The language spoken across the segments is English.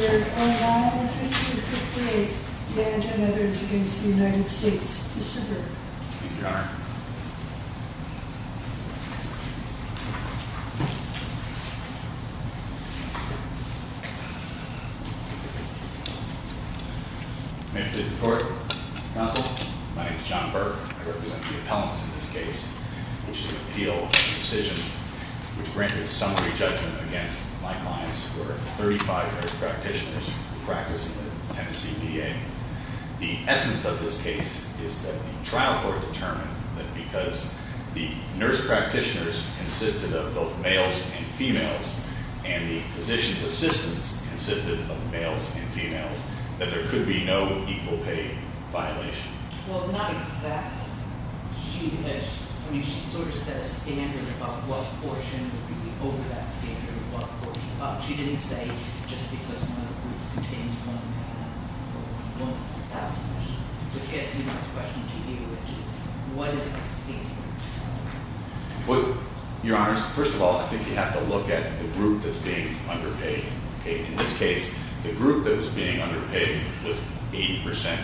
Case Number 09-1558, Yant v. United States Mr. Burke. Thank you, Your Honor. May it please the Court. Counsel. My name is John Burke. I represent the appellants in this case, which is an appeal of the decision which granted summary judgment against my clients, who are 35 years practitioners practicing at Tennessee VA. The essence of this case is that the trial court determined that because the nurse practitioners consisted of both males and females, and the physician's assistants consisted of males and females, that there could be no equal pay violation. Well, not exactly. I mean, she sort of set a standard about what portion would be over that standard and what portion above. She didn't say, just because one of the groups contains one male and one female won't pass the question. The question to you, which is, what is the standard? Well, Your Honor, first of all, I think you have to look at the group that's being underpaid. In this case, the group that was being underpaid was 80%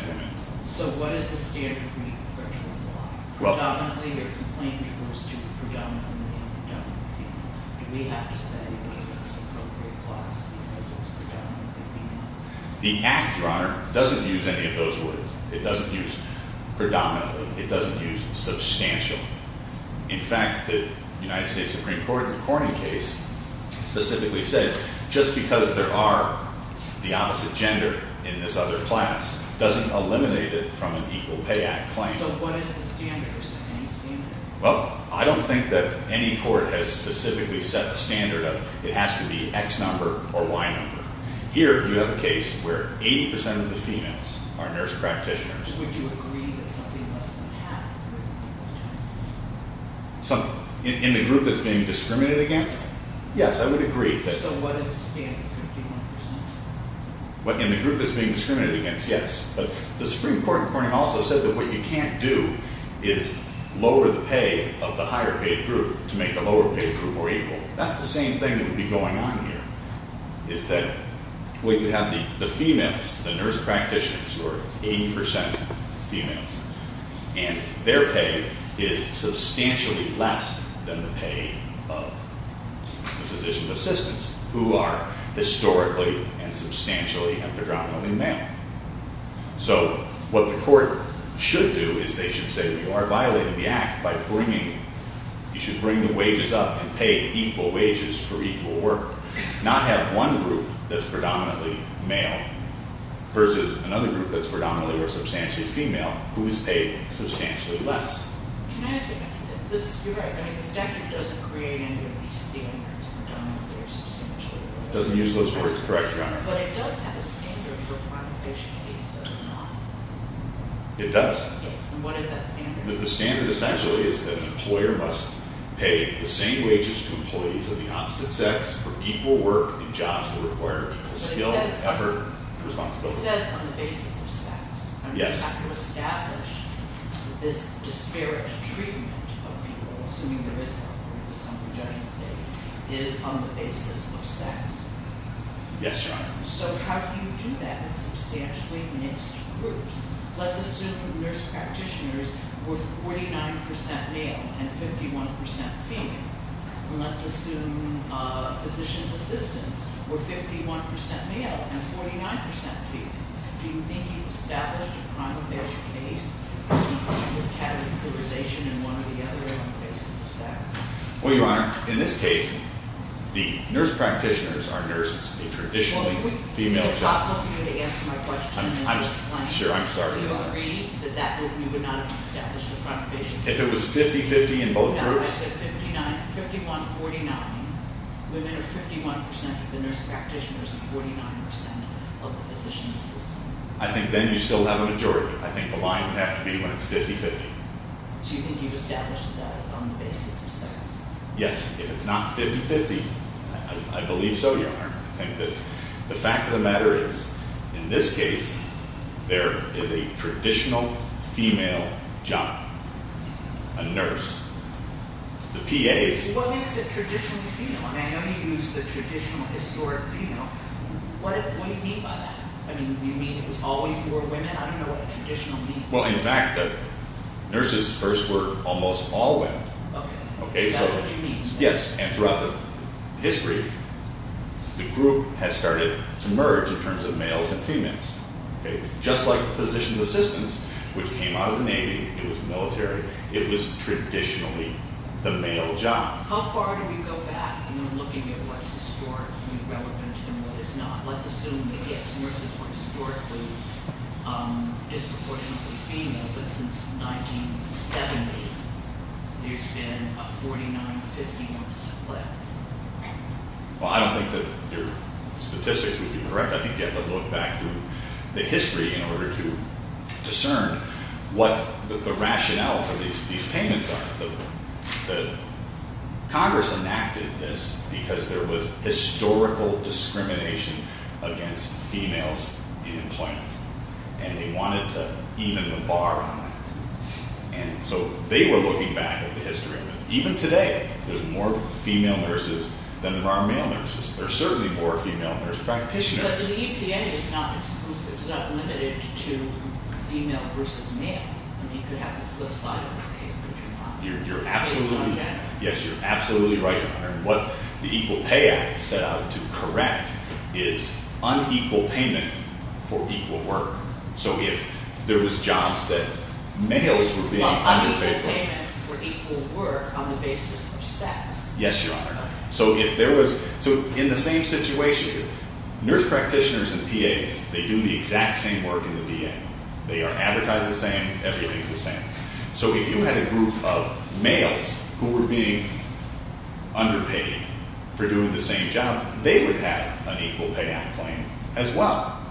women. So what is the standard for each one? Predominantly, your complaint refers to the predominant women and predominant people. Do we have to say that it's an appropriate class because it's predominantly female? The Act, Your Honor, doesn't use any of those words. It doesn't use predominantly. It doesn't use substantially. In fact, the United States Supreme Court in the Corning case specifically said, just because there are the opposite gender in this other class doesn't eliminate it from an Equal Pay Act claim. So what is the standard? Well, I don't think that any court has specifically set a standard that it has to be X number or Y number. Here, you have a case where 80% of the females are nurse practitioners. Would you agree that something must have happened with one of them? In the group that's being discriminated against? Yes, I would agree. So what is the standard, 51%? In the group that's being discriminated against, yes. But the Supreme Court in Corning also said that what you can't do is lower the pay of the higher paid group to make a lower paid group more equal. That's the same thing that would be going on here is that when you have the females, the nurse practitioners who are 80% females and their pay is substantially less than the pay of the physician assistants who are historically and substantially and predominantly male. So what the court should do is they should say that you are violating the Act by bringing, you should bring the wages up and pay equal wages for equal work. Not have one group that's predominantly male versus another group that's predominantly or substantially female who is paid substantially less. Can I ask you a question? You're right, the standard doesn't create any of these standards. It doesn't use those words to correct you. But it does have a standard for quantification cases, does it not? It does. And what is that standard? The standard essentially is that an employer must pay the same wages to employees of the opposite sex for equal work and jobs that require equal skill and effort and responsibility. It says on the basis of sex. You have to establish this disparate treatment of people, assuming there is some perjudging state, is on the basis of sex. Yes, Your Honor. So how do you do that with substantially mixed groups? Let's assume the nurse practitioners were 49% male and 51% female. And let's assume physician's assistants were 51% male and 49% female. Do you think you've established a quantification case and seen this categorization in one or the other on the basis of sex? Well, Your Honor, in this case, the nurse practitioners are nurses. They're traditionally female. Is it possible for you to answer my question? Sure, I'm sorry. Do you agree that you would not have established a quantification case? If it was 50-50 in both groups? 51-49. Women are 51% of the nurse practitioners and 49% of the physician's assistants. I think then you still have a majority. I think the line would have to be when it's 50-50. So you think you've established that it's on the basis of sex? Yes. If it's not 50-50, I believe so, Your Honor. I think that the fact of the matter is, in this case, there is a traditional female job. A nurse. The PAs... What do you mean is it traditionally female? I know you used the traditional historic female. What do you mean by that? Do you mean it was always more women? I don't know what traditional means. Well, in fact, nurses first were almost all women. Is that what you mean? Yes. And throughout the history, the group has started to merge in terms of males and females. Just like the physician's assistants, which came out of the Navy, it was military, it was traditionally the male job. How far do we go back in looking at what's historically relevant and what is not? Let's assume that, yes, nurses were historically disproportionately female, but since 1970, there's been a 49-15 split. Well, I don't think that your statistics would be correct. I think you have to look back through the history in order to discern what the rationale for these payments are. Congress enacted this because there was historical discrimination against females in employment, and they wanted to even the bar on it. And so they were looking back at the history. Even today, there's more female nurses than there are male nurses. There are certainly more female nurse practitioners. But the EPA is not exclusive. It's not limited to female versus male. I mean, you could have the flip side of this case, but you're not. Yes, you're absolutely right. What the Equal Pay Act set out to correct is unequal payment for equal work. So if there was jobs that males were being underpaid for. Well, unequal payment for equal work on the basis of sex. Yes, Your Honor. So in the same situation, nurse practitioners and PAs, they do the exact same work in the VA. They are advertised the same. Everything's the same. So if you had a group of males who were being underpaid for doing the same job, they would have an Equal Pay Act claim as well.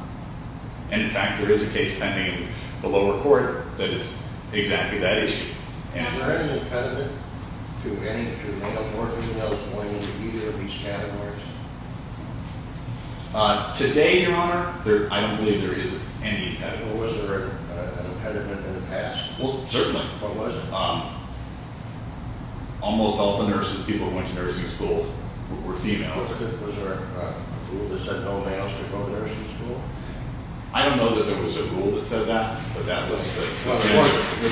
And in fact, there is a case pending in the lower court that is exactly that issue. Is there any impediment to males or females going into either of these categories? Today, Your Honor, I don't believe there is any impediment. Well, was there an impediment in the past? Well, certainly. What was it? Almost all the nurses, people who went to nursing schools, were females. Was there a rule in the nursing school? I don't know that there was a rule that said that, but that was the case.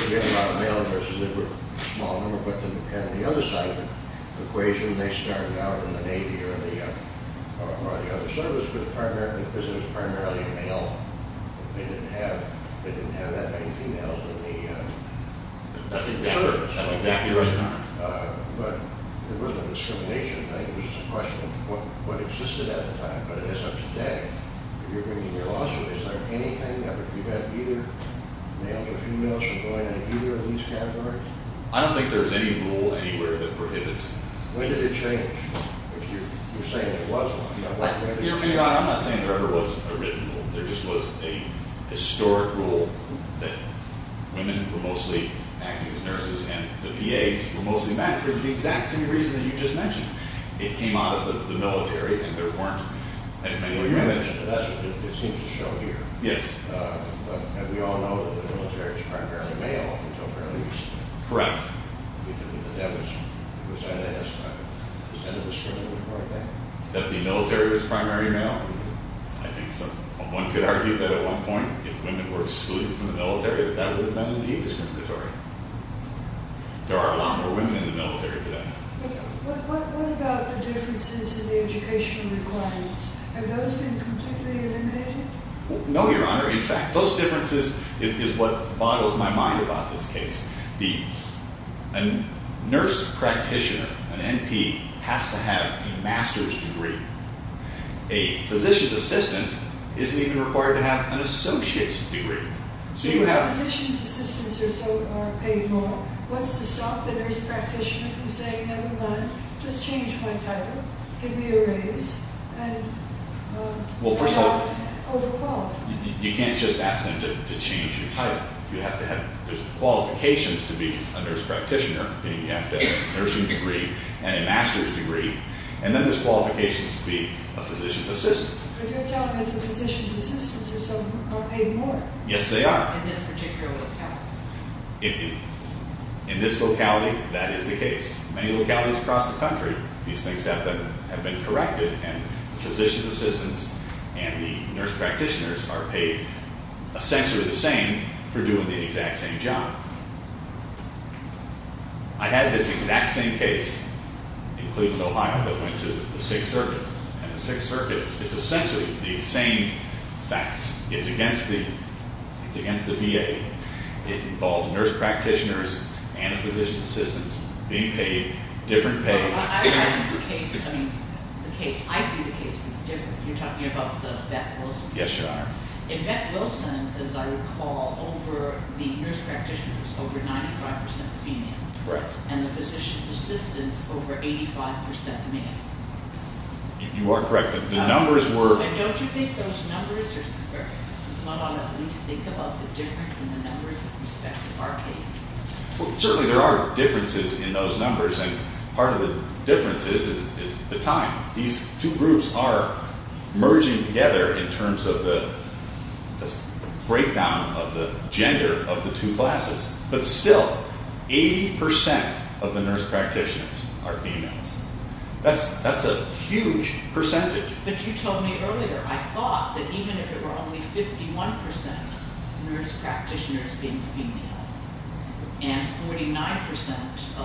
There were a lot of male nurses. They were a small number, but on the other side of the equation, they started out in the Navy or the other service, because it was primarily male. They didn't have that many females in the service. That's exactly right, Your Honor. But there wasn't a discrimination thing. It was just a question of what you're bringing here also. Is there anything that would prevent either males or females from going into either of these categories? I don't think there's any rule anywhere that prohibits. When did it change? You're saying it wasn't. Your Honor, I'm not saying there ever was a written rule. There just was a historic rule that women were mostly acting as nurses and the PAs were mostly men for the exact same reason that you just mentioned. It came out of the military, and there that's what it seems to show here. Yes. And we all know that the military is primarily male until fairly recently. Correct. Was that a discriminatory thing? That the military was primarily male? I think so. One could argue that at one point, if women were excluded from the military, that that would then be discriminatory. There are a lot more women in the military today. What about the differences in the educational requirements? Have those been completely eliminated? No, Your Honor. In fact, those differences is what boggles my mind about this case. The nurse practitioner, an NP, has to have a master's degree. A physician's assistant isn't even required to have an associate's degree. But if a physician's assistant or so are paid more, what's to stop the nurse practitioner from saying, never mind, just change my place? Well, first of all, you can't just ask them to change your title. You have to have qualifications to be a nurse practitioner, meaning you have to have a nursing degree and a master's degree, and then there's qualifications to be a physician's assistant. But you're telling us the physician's assistants or so are paid more? Yes, they are. In this particular locality? In this locality, that is the case. Many localities across the country, these things have been corrected and the physician's assistants and the nurse practitioners are paid essentially the same for doing the exact same job. I had this exact same case in Cleveland, Ohio, that went to the Sixth Circuit, and the Sixth Circuit is essentially the same facts. It's against the VA. It involves nurse practitioners and a physician's assistant being paid different pay. I see the case as different. You're talking about the Bette Wilson case? Yes, Your Honor. In Bette Wilson, as I recall, over the nurse practitioners over 95% female. And the physician's assistants over 85% male. You are correct. Don't you think those numbers are specific? One ought to at least think about the difference in the numbers with respect to our case. Certainly there are differences in those numbers, and part of the difference is the time. These two groups are merging together in terms of the breakdown of the gender of the two classes, but still 80% of the nurse practitioners are females. That's a huge percentage. But you told me earlier, I thought that even if it were only 51% nurse practitioners being female, and 49%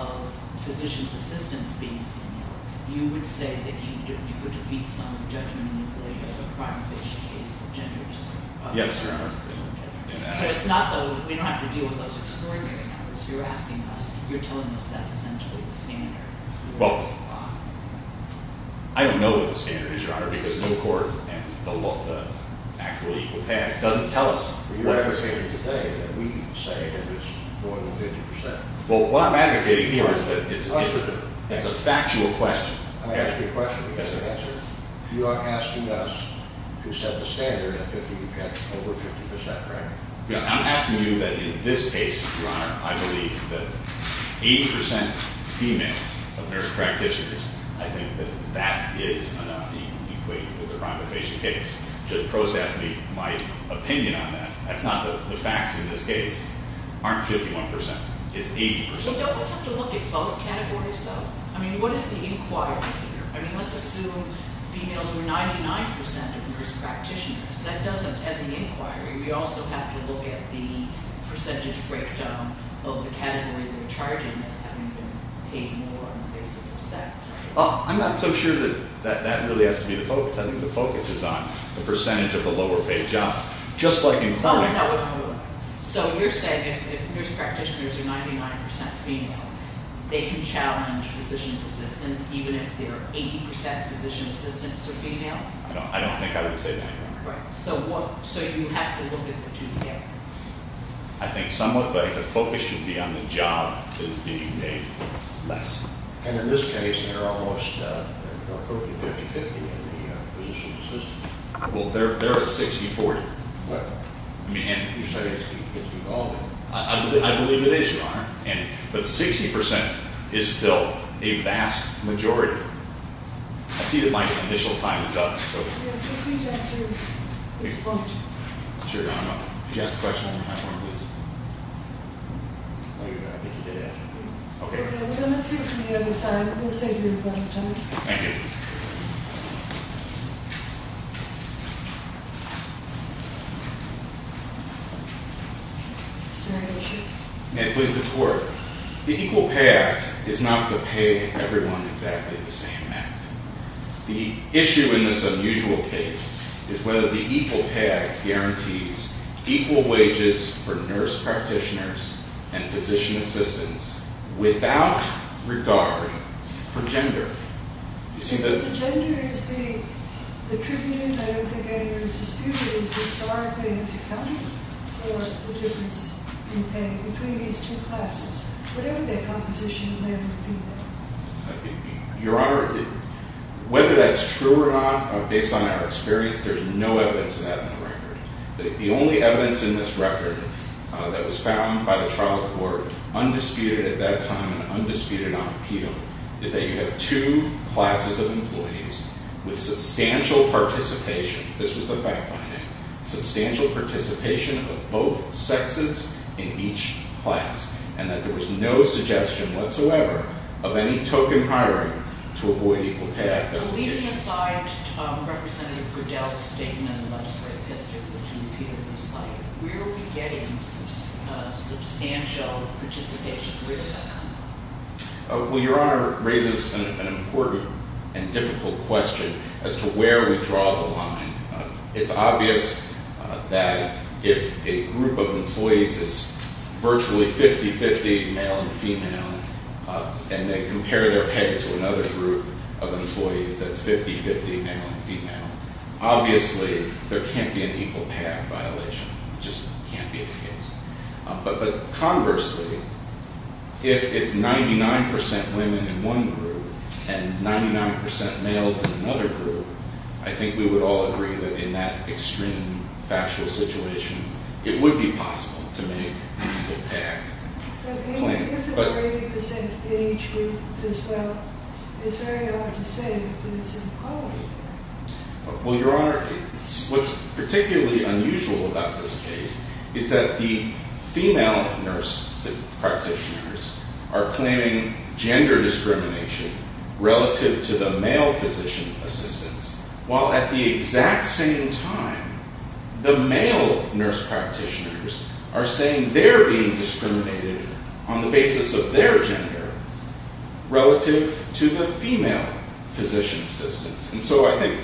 of physician's assistants being female, you would say that you could defeat some of the judgment in the prior case of gender discrimination. Yes, Your Honor. We don't have to deal with those extraordinary numbers. You're asking us, you're telling us that's essentially the standard. Well, I don't know what the standard is, Your Honor, because no court and the actual legal pad doesn't tell us what it is. You're advocating today that we say it is more than 50%. Well, what I'm advocating here is that it's a factual question. I'm asking a question. You are asking us to set the standard that you've got over 50%, right? I'm asking you that in this case, Your Honor, I believe that 80% females of nurse practitioners, I think that that is enough to equate with the rhinofacial case. Just process me, my opinion on that. That's not the facts in this case. Aren't 51%. It's 80%. We don't have to look at both categories, though? I mean, what is the inquiry here? I mean, let's assume females were 99% of nurse practitioners. That doesn't end the inquiry. We also have to look at the percentage breakdown of the category they're charging as having been paid more on the basis of sex, right? I'm not so sure that that really has to be the focus. I think the focus is on the percentage of the lower-paid job. Just like in cloning... So you're saying if nurse practitioners are 99% female, they can challenge physician's assistants even if they're 80% physician's assistants are female? I don't think I would say that. So you have to look at the two together? I think somewhat, but the focus should be on the job being paid less. And in this case, there are almost 40, 50, 50 in the physician's assistants. Well, they're at 60, 40. What? I mean, Andy, I believe it is, Your Honor. But 60% is still a vast majority. I see that my initial time is up. Yes, but please answer this point. If you could ask the question one more time, please. No, you're good. I think you did it. Okay. We're going to take it from the other side. We'll save you a lot of time. May I please deport? The Equal Pay Act is not going to pay everyone exactly the same amount. The issue in this unusual case is whether the Equal Pay Act guarantees equal wages for nurse practitioners and physician assistants without regard for gender. Gender is the attribute, and I don't think anyone is disputing that historically has accounted for the difference in pay between these two classes. Whatever that composition may have been. Your Honor, whether that's true or not, based on our experience, there's no evidence of that in the record. The only evidence in this record that was found by the trial court, undisputed at that time and undisputed on appeal, is that you have two classes of employees with substantial participation. This was the fact finding. Substantial participation of both sexes in each class, and that there was no suggestion whatsoever of any token hiring to avoid Equal Pay Act allegations. Leaving aside Representative Goodell's statement in the legislative history, which you repeated in the slide, where are we getting substantial participation? Well, Your Honor, it raises an important and difficult question as to where we draw the line. It's obvious that if a group of employees is virtually 50-50 male and female, and they compare their pay to another group of employees that's 50-50 male and female, obviously there can't be an Equal Pay Act violation. It just can't be the case. But conversely, if it's 99% women in one group, and 99% males in another group, I think we would all agree that in that extreme factual situation, it would be possible to make an Equal Pay Act claim. But if there were 80% in each group as well, it's very hard to say that there's equality there. Well, Your Honor, what's particularly unusual about this case is that the female nurse practitioners are claiming gender discrimination relative to the male physician assistants, while at the exact same time, the male nurse practitioners are saying they're being discriminated on the basis of their gender relative to the female physician assistants. And so I think,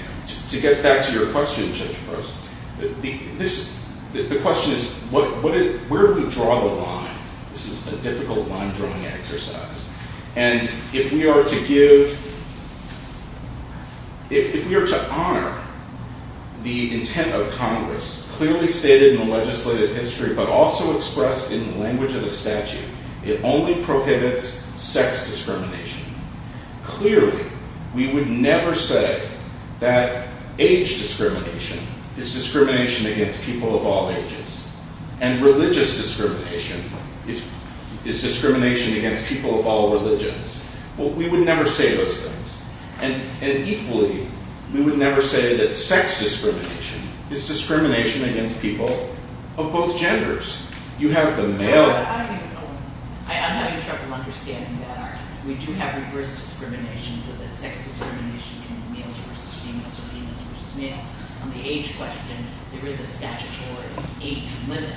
to get back to your question, Judge Prost, the question is, where do we draw the line? This is a difficult line-drawing exercise. And if we are to give, if we are to honor the intent of Congress, clearly stated in the legislative history, but also expressed in the language of the statute, it only prohibits sex discrimination. Clearly, we would never say that age discrimination is discrimination against people of all ages. And religious discrimination is discrimination against people of all religions. We would never say those things. And equally, we would never say that sex discrimination is discrimination against people of both genders. You have the male... I'm having trouble understanding that. We do have reverse discrimination, so that sex discrimination in males versus females or females versus males. On the age question, there is a statutory age limit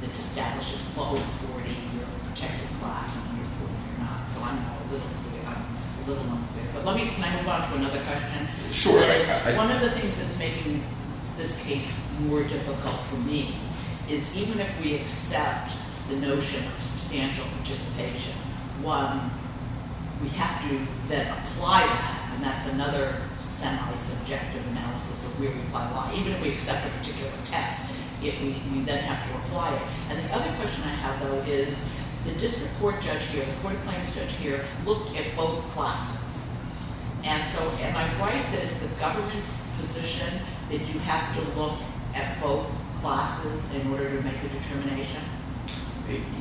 that establishes below 40 if you're a protected class and under 40 you're not. So I'm a little unclear. Can I move on to another question? Sure. One of the things that's making this case more difficult for me is, even if we accept the notion of substantial participation, one, we have to then apply that, and that's another semi-subjective analysis of where we apply why. Even if we accept a particular test, we then have to apply it. And the other question I have, though, is the District Court judge here, the Court of Claims judge here looked at both classes. And so am I right that it's the government's position that you have to look at both classes in order to make a determination?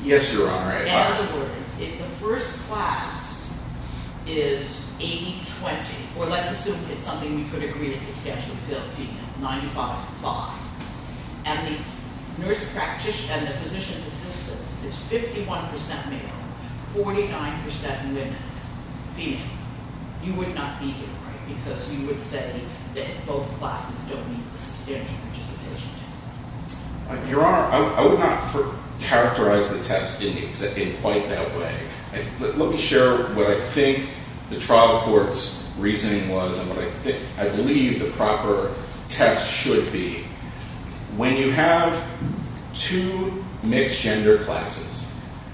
Yes, Your Honor. In other words, if the first class is 80-20, or let's assume it's something we could agree is substantially female, 95-5, and the nurse practitioner and the physician's assistant is 51% male, 49% women, female, you would not be here, right? Because you would say that both classes don't need a substantial participation test. Your Honor, I would not characterize the test in quite that way. Let me share what I think the trial court's reasoning was and what I believe the proper test should be. When you have two mixed-gender classes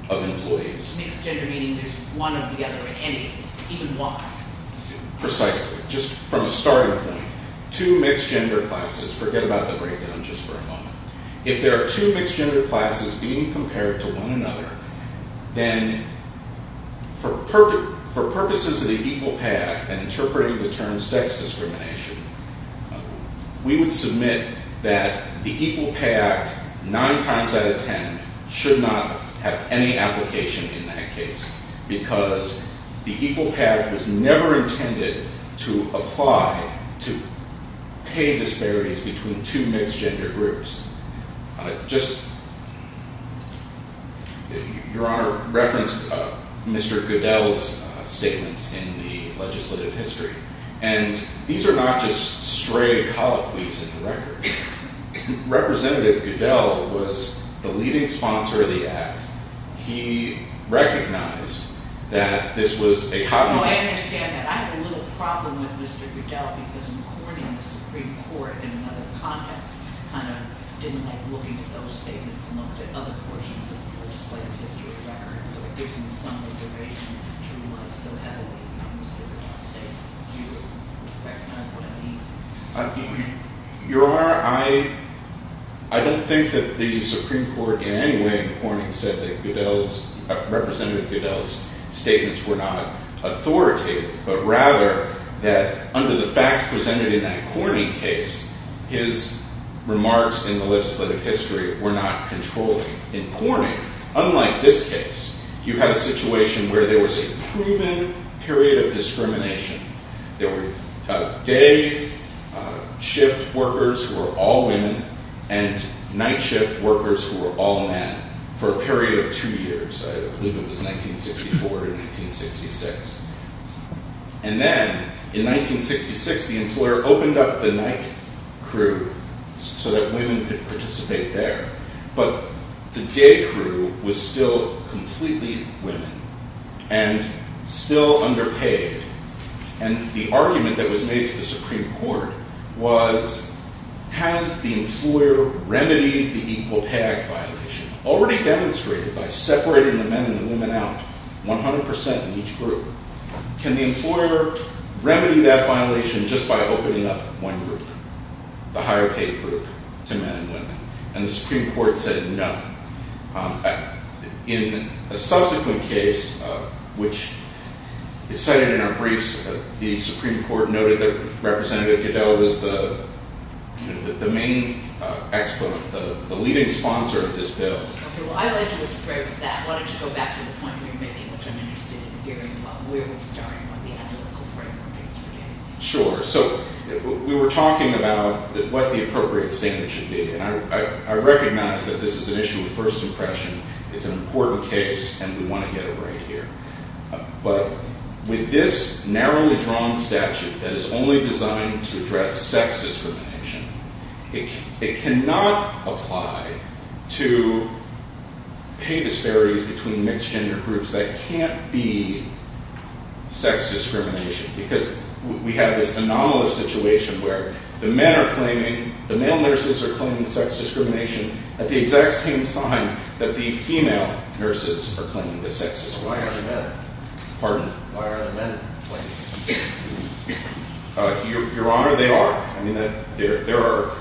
of employees... Mixed-gender meaning there's one or the other in any of them, even one. Precisely. Just from a starting point, two mixed-gender classes... Forget about the breakdown just for a moment. If there are two mixed-gender classes being compared to one another, then for purposes of the Equal Pay Act and interpreting the term sex discrimination, we would submit that the Equal Pay Act, 9 times out of 10, should not have any application in that case because the Equal Pay Act was never intended to apply to pay disparities between two mixed-gender groups. Just... Your Honor, reference Mr. Goodell's statements in the legislative history. These are not just stray colloquies in the record. Representative Goodell was the leading sponsor of the Act. He recognized that this was a colloquy. I understand that. I have a little problem with Mr. Goodell because in Corning, the Supreme Court, in another context, kind of didn't like looking at those statements and looked at other portions of the legislative history of the record, so it gives me some reservation to realize so heavily Mr. Goodell's statement. Do you recognize what I mean? Your Honor, I don't think that the Supreme Court in any way in Corning said that Representative Goodell's statements were not authoritative, but rather that under the facts presented in that Corning case, his remarks in the legislative history were not controlling. In Corning, unlike this case, you had a situation where there was a proven period of discrimination. There were day shift workers who were all women and night shift workers who were all men for a period of two years. I believe it was 1964 and 1966. And then, in 1966, the employer opened up the night crew so that women could participate there, but the day crew was still completely women and still underpaid. And the argument that was made to the Supreme Court was has the employer remedied the Equal Pay Act violation already demonstrated by separating the men and the women out 100% in each group? Can the employer remedy that violation just by opening up one group, the higher paid group to men and women? And the Supreme Court said no. In a subsequent case, which is cited in our briefs, the Supreme Court noted that Representative Goodell was the main exponent, the leading sponsor of this bill. I'd like to go straight with that. Why don't you go back to the point you were making, which I'm interested in hearing about. Where are we starting? What are the analytical frameworks? Sure. We were talking about what the appropriate statement should be. I recognize that this is an issue of first impression. It's an important case, and we want to get it right here. But with this narrowly drawn statute that is only designed to address sex discrimination, it cannot apply to pay disparities between mixed gender groups that can't be sex discrimination because we have this anomalous situation where the men are claiming, the male nurses are claiming sex discrimination at the exact same time that the female nurses are claiming the sex discrimination. Why aren't the men? Pardon? Why aren't the men claiming? Your Honor, they are. There are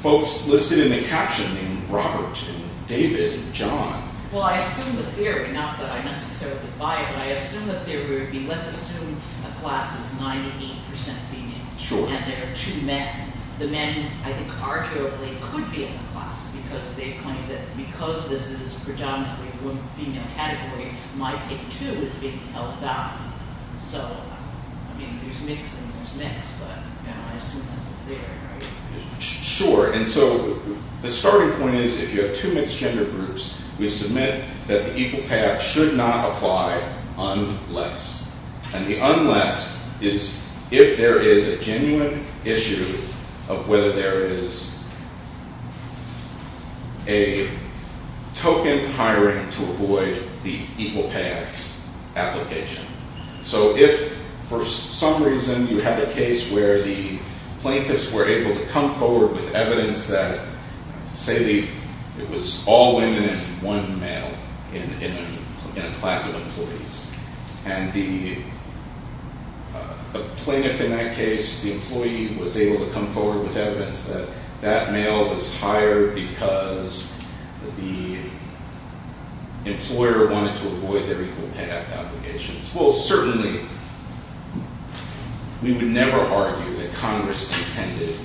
folks listed in the caption named Robert and David and John. Well, I assume the theory, not that I necessarily buy it, but I assume the theory would be, let's assume a class is 98% female. Sure. And there are two men. The men I think arguably could be in the class because they claim that because this is predominantly a female category, my pick too is being held down. So, I mean, there's mixed and there's mixed, but I assume that's the theory, right? Sure. And so, the starting point is if you have two mixed gender groups, we submit that the Equal Pay Act should not apply unless. And the unless is if there is a genuine issue of whether there is a token hiring to avoid the Equal Pay Act's application. So if for some reason you had a case where the plaintiffs were able to come forward with evidence that say the it was all women and one male in a class of employees, and the plaintiff in that case, the employee was able to come forward with evidence that that male was hired because the employer wanted to avoid their Equal Pay Act obligations. Well, certainly we would never argue that Congress intended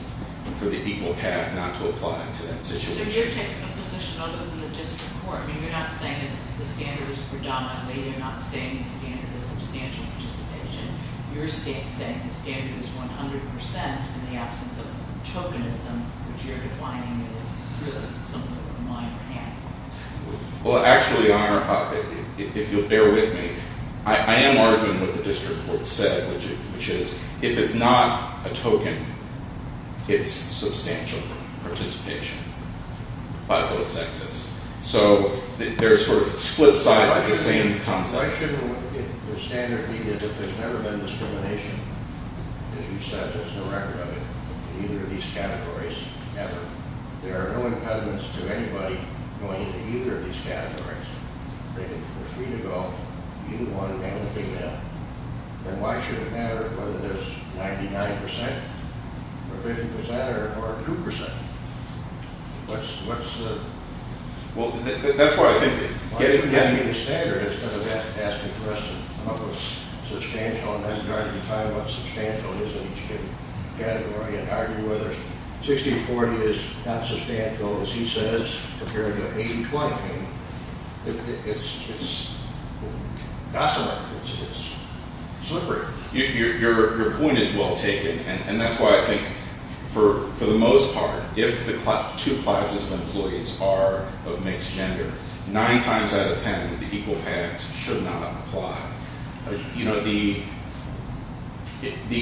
for the Equal Pay Act not to apply to that situation. So you're taking a position out of the district court. I mean, you're not saying that the standard is predominantly. You're not saying the standard is substantial participation. You're saying the standard is 100% in the absence of tokenism, which you're defining as really something that the minor had. Well, actually, if you'll bear with me, I am arguing what the district court said, which is if it's not a token, it's substantial participation by both sexes. So there's sort of split sides of the same concept. I shouldn't look at the standard being that there's never been discrimination. As you said, there's no record of it in either of these categories ever. There are no impediments to anybody going to either of these categories. They're free to go. You want anything now. Then why should it matter whether there's 99% or 50% or 2%? What's the... Well, that's what I think... Why don't you get me the standard instead of asking for us to come up with substantial and then try to define what substantial is in each category and argue whether 60-40 is not substantial as he says compared to 80-20. It's... It's... It's slippery. Your point is well taken and that's why I think for the most part, if the two classes of employees are of mixed gender, nine times out of ten, the equal pay act should not apply. The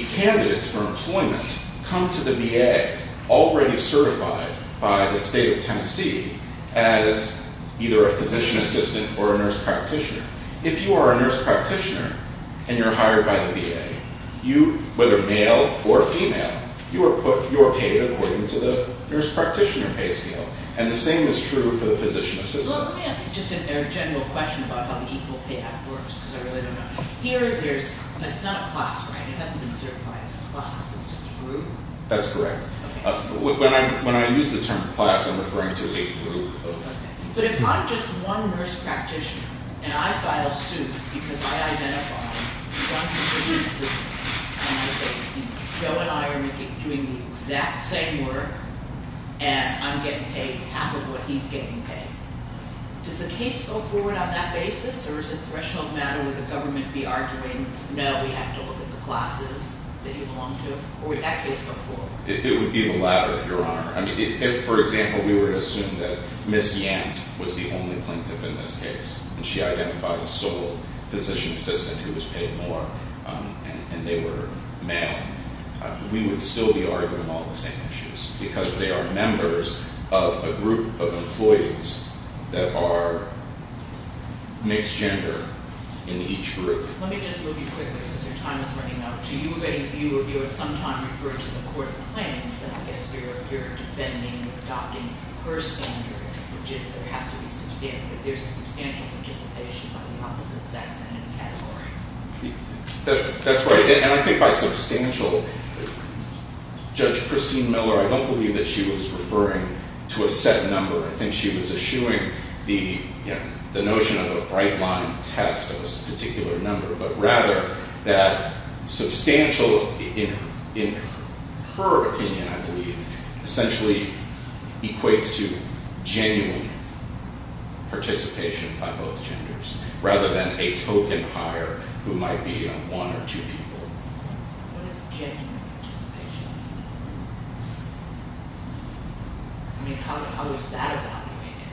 candidates for employment come to the VA already certified by the state of Tennessee as either a physician assistant or a nurse practitioner. If you are a nurse practitioner and you're hired by the VA, whether male or female, you are paid according to the nurse practitioner pay scale and the same is true for the physician assistant. Let me ask you just a general question about how the equal pay act works because I really don't know. Here, there's... It's not a class, right? It hasn't been certified as a class. It's just a group? That's correct. When I use the term class, I'm referring to a group. But if I'm just one nurse practitioner and I file suit because I identify one physician assistant and I say, Joe and I are doing the exact same work and I'm getting paid half of what he's getting paid, does the case go forward on that basis or is it a threshold matter where the government be arguing, no, we have to look at the classes that you belong to or would that case go forward? It would be the latter, Your Honor. If, for example, we were to assume that Ms. Yant was the only plaintiff in this case and she identified a sole physician assistant who was paid more and they we would still be arguing all the same issues because they are members of a group of employees that are mixed gender in each group. Let me just move you quickly because your time is running out. Do you sometime refer to the court of claims as if you're defending or adopting her standard which is there has to be substantial participation by the opposite sex in any category? That's right. And I think by substantial, Judge Christine Miller, I don't believe that she was referring to a set number. I think she was eschewing the notion of a bright line test of a particular number, but rather that substantial in her opinion, I believe, essentially equates to genuine participation by both genders rather than a token hire who might be one or two people. What is genuine participation? I mean, how is that evaluated?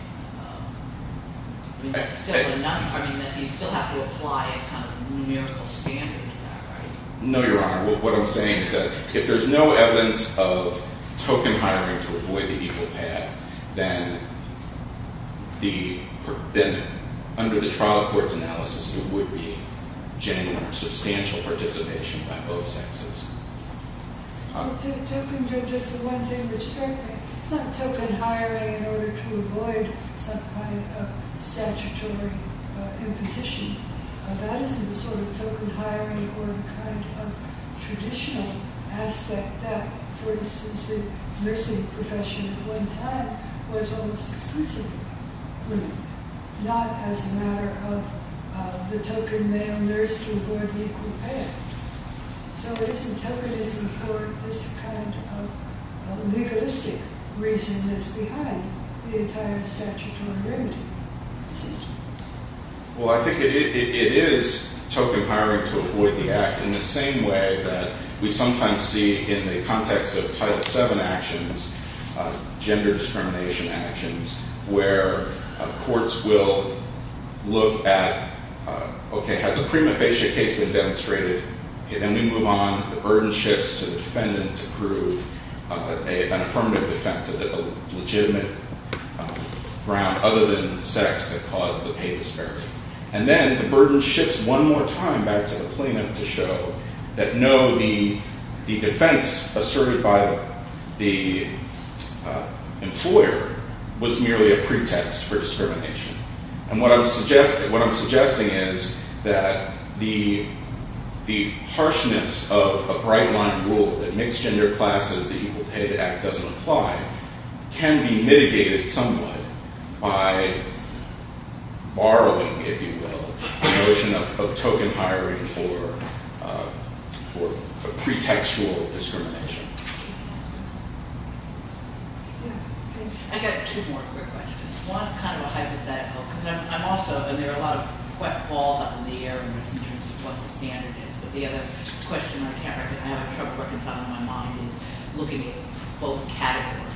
I mean, you still have to apply a kind of numerical standard to that, right? No, Your Honor. What I'm saying is that if there's no evidence of token hiring to avoid the equal path, then under the trial court's analysis, it would be genuine or substantial participation by both sexes. Token judges the one thing which struck me, it's not token hiring in order to avoid some kind of statutory imposition. That isn't the sort of token hiring or the kind of traditional aspect that for instance, the nursing profession at one time was almost exclusively women, not as a matter of the token male nurse to avoid the equal path. So it isn't tokenism for this kind of legalistic reason that's behind the entire statutory remedy, is it? Well, I think it is token hiring to avoid the act in the same way that we sometimes see in the context of Title VII actions, gender discrimination actions, where courts will look at, okay, has the prima facie case been demonstrated? Okay, then we move on. The burden shifts to the defendant to prove an affirmative defense of a legitimate ground other than sex that caused the paid disparity. And then the burden shifts one more time back to the plaintiff to show that no, the defense asserted by the employer was merely a pretext for discrimination. And what I'm suggesting is that the harshness of a bright-line rule that mixed gender classes that you will pay the act doesn't apply can be mitigated somewhat by borrowing, if you will, the notion of token hiring for pretextual discrimination. I've got two more quick questions. One kind of a hypothetical, because I'm also and there are a lot of quick balls up in the air in this in terms of what the standard is. But the other question I have a trouble working this out in my mind is looking at both categories.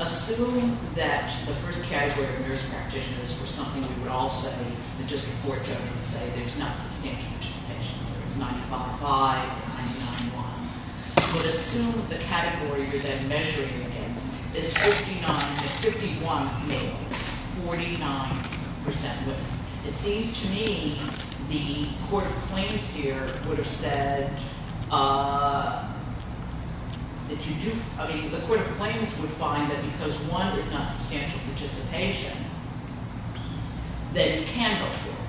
Assume that the first category of nurse practitioners were something you would all say, the district court judge would say, there's not substantial participation, whether it's 95-5 or 99-1. But assume the category you're then measuring against is 59-51 male, 49% women. It seems to me the court of claims here would have said that you do, I mean, the court of claims would find that because one is not substantial participation, then you can go forward.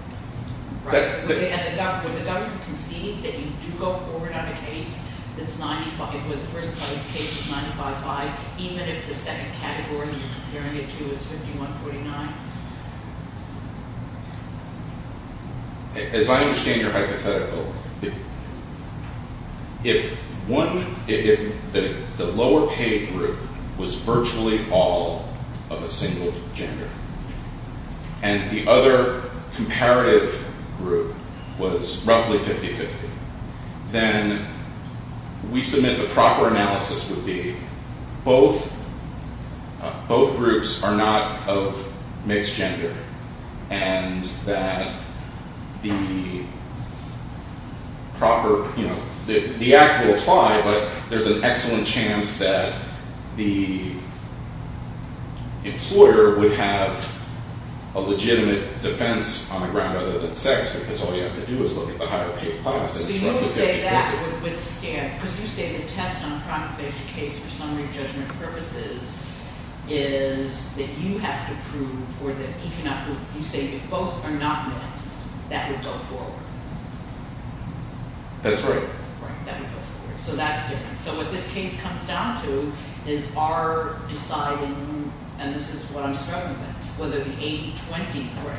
Would the government concede that you do go forward on a case that's 95, where the first case is 95-5, even if the second category you're comparing it to is 51-49? As I understand your hypothetical, if one, if the lower paid group was virtually all of a single gender, and the other comparative group was roughly 50-50, then we submit the proper analysis would be both groups are not of mixed gender, and that the proper, you know, the act will apply, but there's an excellent chance that the employer would have a legitimate defense on the ground other than sex, because all you have to do is look at the higher paid classes. So you would say that would withstand, because you say the test on a primary case for summary judgment purposes is that you have to prove or that he cannot prove, you say if both are not mixed, that would go forward. That's right. So that's different. So what this case comes down to is our deciding, and this is what I'm struggling with, whether the 80-20 grade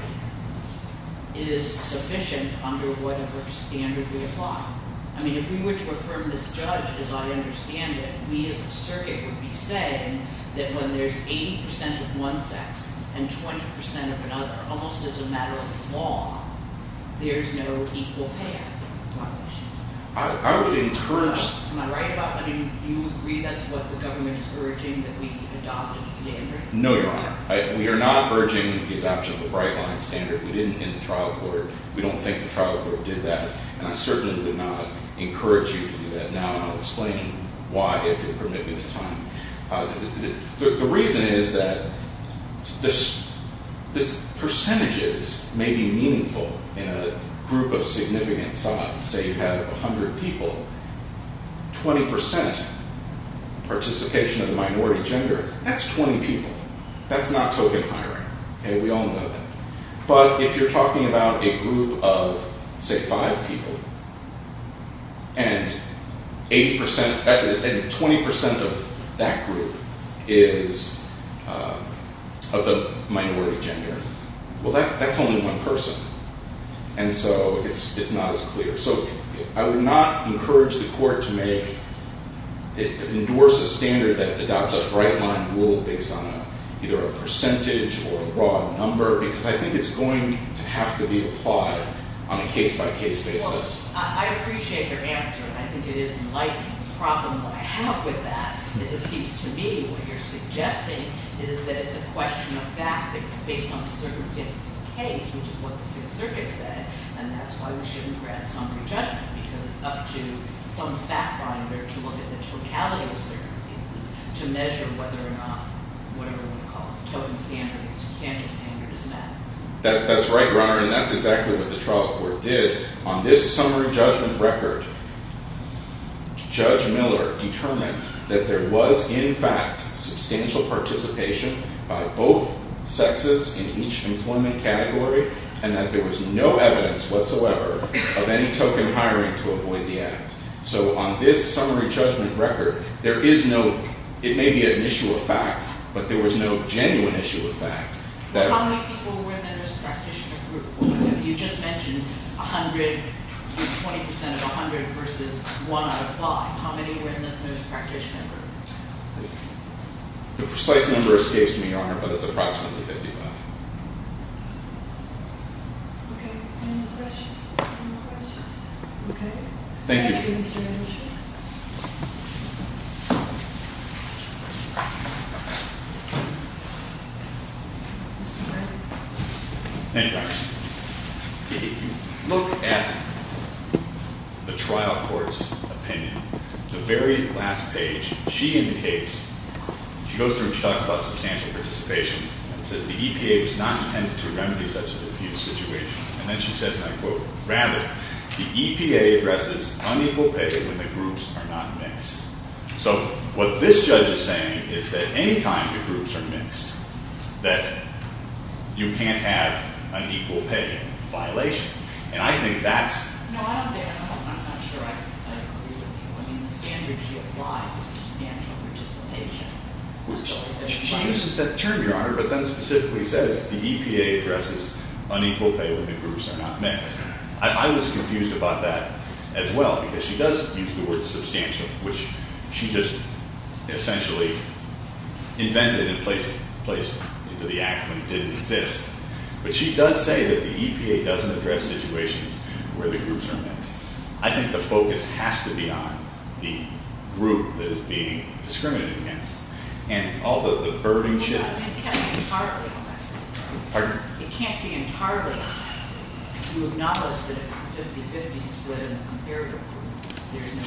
is sufficient under whatever standard we apply. I mean, if we were to affirm this judge, as I understand it, we as a circuit would be saying that when there's 80% of one sex and 20% of another, almost as a matter of law, there's no equal payout. I would encourage... Am I right about that? I mean, do you agree that's what the government is urging, that we adopt a standard? No, Your Honor. We are not urging the adoption of a bright-line standard. We didn't in the trial court. We don't think the trial court did that. And I certainly would not encourage you to do that now, and I'll explain why, if you'll permit me the time. The reason is that the percentages may be meaningful in a group of significant size. Say you have 100 people, 20% participation of the minority gender, that's 20 people. That's not token hiring, and we all know that. But if you're talking about a group of 100 people, and 20% of that group is of the minority gender, well, that's only one person. And so it's not as clear. So I would not encourage the court to endorse a standard that adopts a bright-line rule based on either a percentage or a raw number, because I think it's going to have to be applied on a case-by-case basis. Well, I appreciate your answer, and I think it is enlightening. The problem that I have with that is it seems to me what you're suggesting is that it's a question of fact, that it's based on the circumstances of the case, which is what the civil circuit said, and that's why we shouldn't grant summary judgment, because it's up to some fact-finder to look at the totality of the circumstances to measure whether or not, whatever we want to call it, the token standard or the standard is met. That's right, Your Honor, and that's exactly what the trial court did. On this summary judgment record, Miller determined that there was, in fact, substantial participation by both sexes in each employment category, and that there was no evidence whatsoever of any token hiring to avoid the act. So on this summary judgment record, there is no, it may be an issue of fact, but there was no genuine issue of fact. How many people were in the nurse practitioner group? You just mentioned 100, 20% of 100 versus 1 out of 5. How many were in this nurse practitioner group? The precise number escapes me, Your Honor, but it's approximately 55. Okay. Any more questions? Okay. Thank you, Mr. Anderson. Thank you, Your Honor. Anyway, if you look at the trial court's opinion, the very last page, she indicates, she goes through, she talks about substantial participation, and says, the EPA was not intended to remedy such a diffuse situation, and then she says, and I quote, rather, the EPA addresses unequal pay when the groups are not mixed. So what this judge is saying is that any time the groups are mixed, that you can't have an equal pay violation, and I think that's No, I'm there. I'm not sure I agree with you. I mean, the standard she applied was substantial participation. She uses that term, Your Honor, but then specifically says the EPA addresses unequal pay when the groups are not mixed. I was confused about that as well, because she does use the word substantial, which she just essentially invented and placed into the act when it didn't exist, but she does say that the EPA doesn't address situations where the groups are mixed. I think the focus has to be on the group that is being discriminated against, and all the birding shit. It can't be entirely It can't be entirely You acknowledge that it's 50-50 split in the comparator group. There's no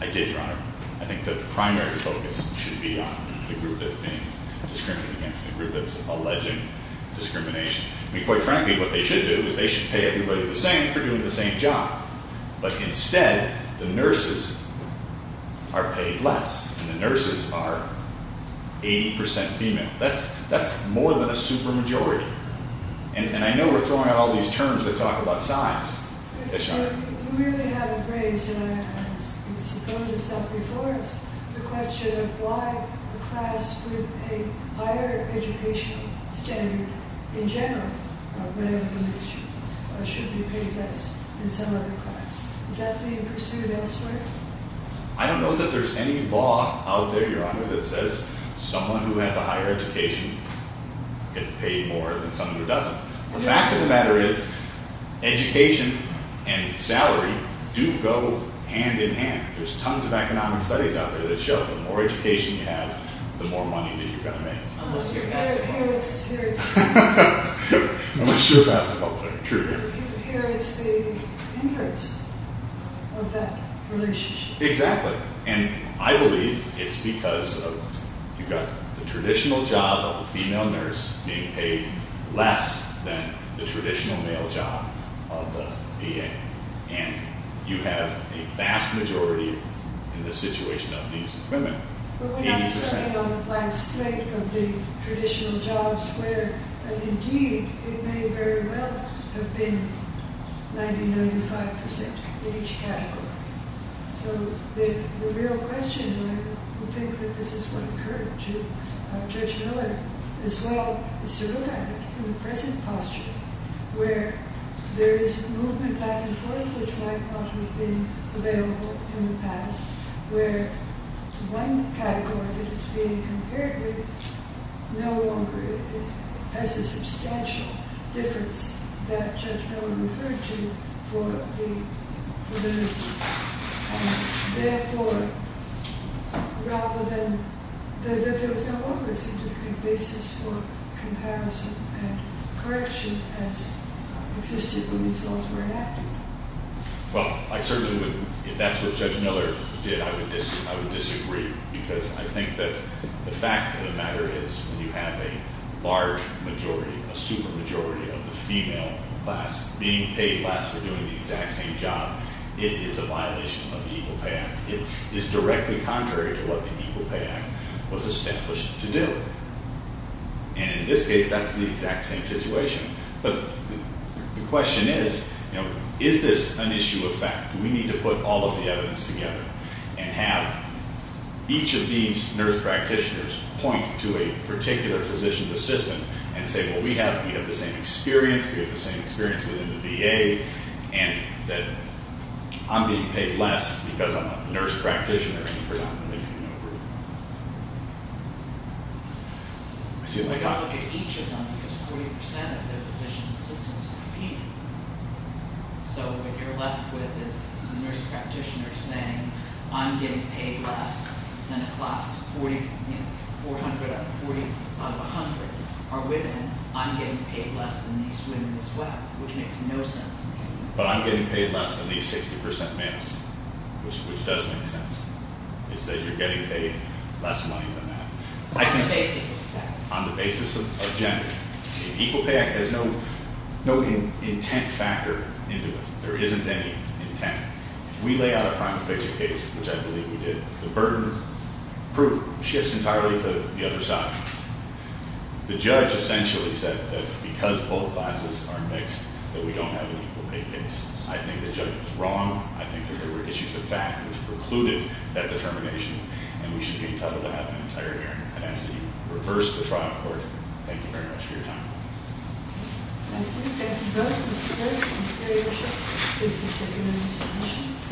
I did, Your Honor. I think the primary focus should be on the group that's being discriminated against, the group that's alleging discrimination. I mean, quite frankly, what they should do is they should pay everybody the same for doing the same job, but instead, the nurses are paid less, and the nurses are 80% female. That's more than a super majority, and I know we're throwing out all these terms that talk about size. We really haven't raised, and I suppose it's up before us, the question of why a class with a higher educational standard in general should be paid less than some other class. Is that being pursued elsewhere? I don't know that there's any law out there, Your Honor, that says someone who has a higher education gets paid more than someone who doesn't. The fact of the matter is education and salary do go hand in hand. There's tons of economic studies out there that show the more education you have, the more money that you're going to make. Unless you're a basketball player. Unless you're a basketball player, true. Here it's the inverse of that relationship. Exactly, and I believe it's because of you've got the traditional job of a female nurse being paid less than the traditional male job of the PA, and you have a vast majority in the situation of these women. But we're not starting on the black slate of the traditional jobs where, and indeed, it may very well have been 90-95% in each category. So the real question and I think that this is what occurred to Judge Miller as well as to look at it in the present posture where there is movement back and forth which might not have been available in the past where one category that is being compared with no longer has the substantial difference that Judge Miller referred to for the nurses. Therefore, rather than that there was no longer a significant basis for comparison and correction as existed when these laws were enacted. Well, I certainly would, if that's what Judge Miller did, I would disagree because I think that the fact of the matter is when you have a large majority, a super majority of the female class being paid less for doing the exact same job, it is a violation of the Equal Pay Act. It is directly contrary to what the Equal Pay Act was established to do. And in this case, that's the exact same situation. But the question is, is this an issue of fact? Do we need to put all of the evidence together and have each of these nurse practitioners point to a particular physician's assistant and say, well, we have the same experience, we have the same experience within the VA and that I'm being paid less because I'm a nurse practitioner in a predominantly female group. I see what I got. I look at each of them because 40% of the physician's assistants are female. So what you're left with is a nurse practitioner saying, I'm getting paid less than a class of 40, you know, 400 out of 100 are women. I'm getting paid less than these women as well, which makes no sense. But I'm getting paid less than these 60% males, which does make sense. It's that you're getting paid less money than that. On the basis of gender. The Equal Pay Act has no intent factor into it. There isn't any intent. If we lay out a private picture case, which I believe we did, the burden proof shifts entirely to the other side. The judge essentially said that because both classes are mixed, that we don't have an equal pay case. I think the judge was wrong. I think that there were issues of fact which precluded that determination and we should be entitled to have an entire hearing. I ask that you reverse the trial court. Thank you very much for your time.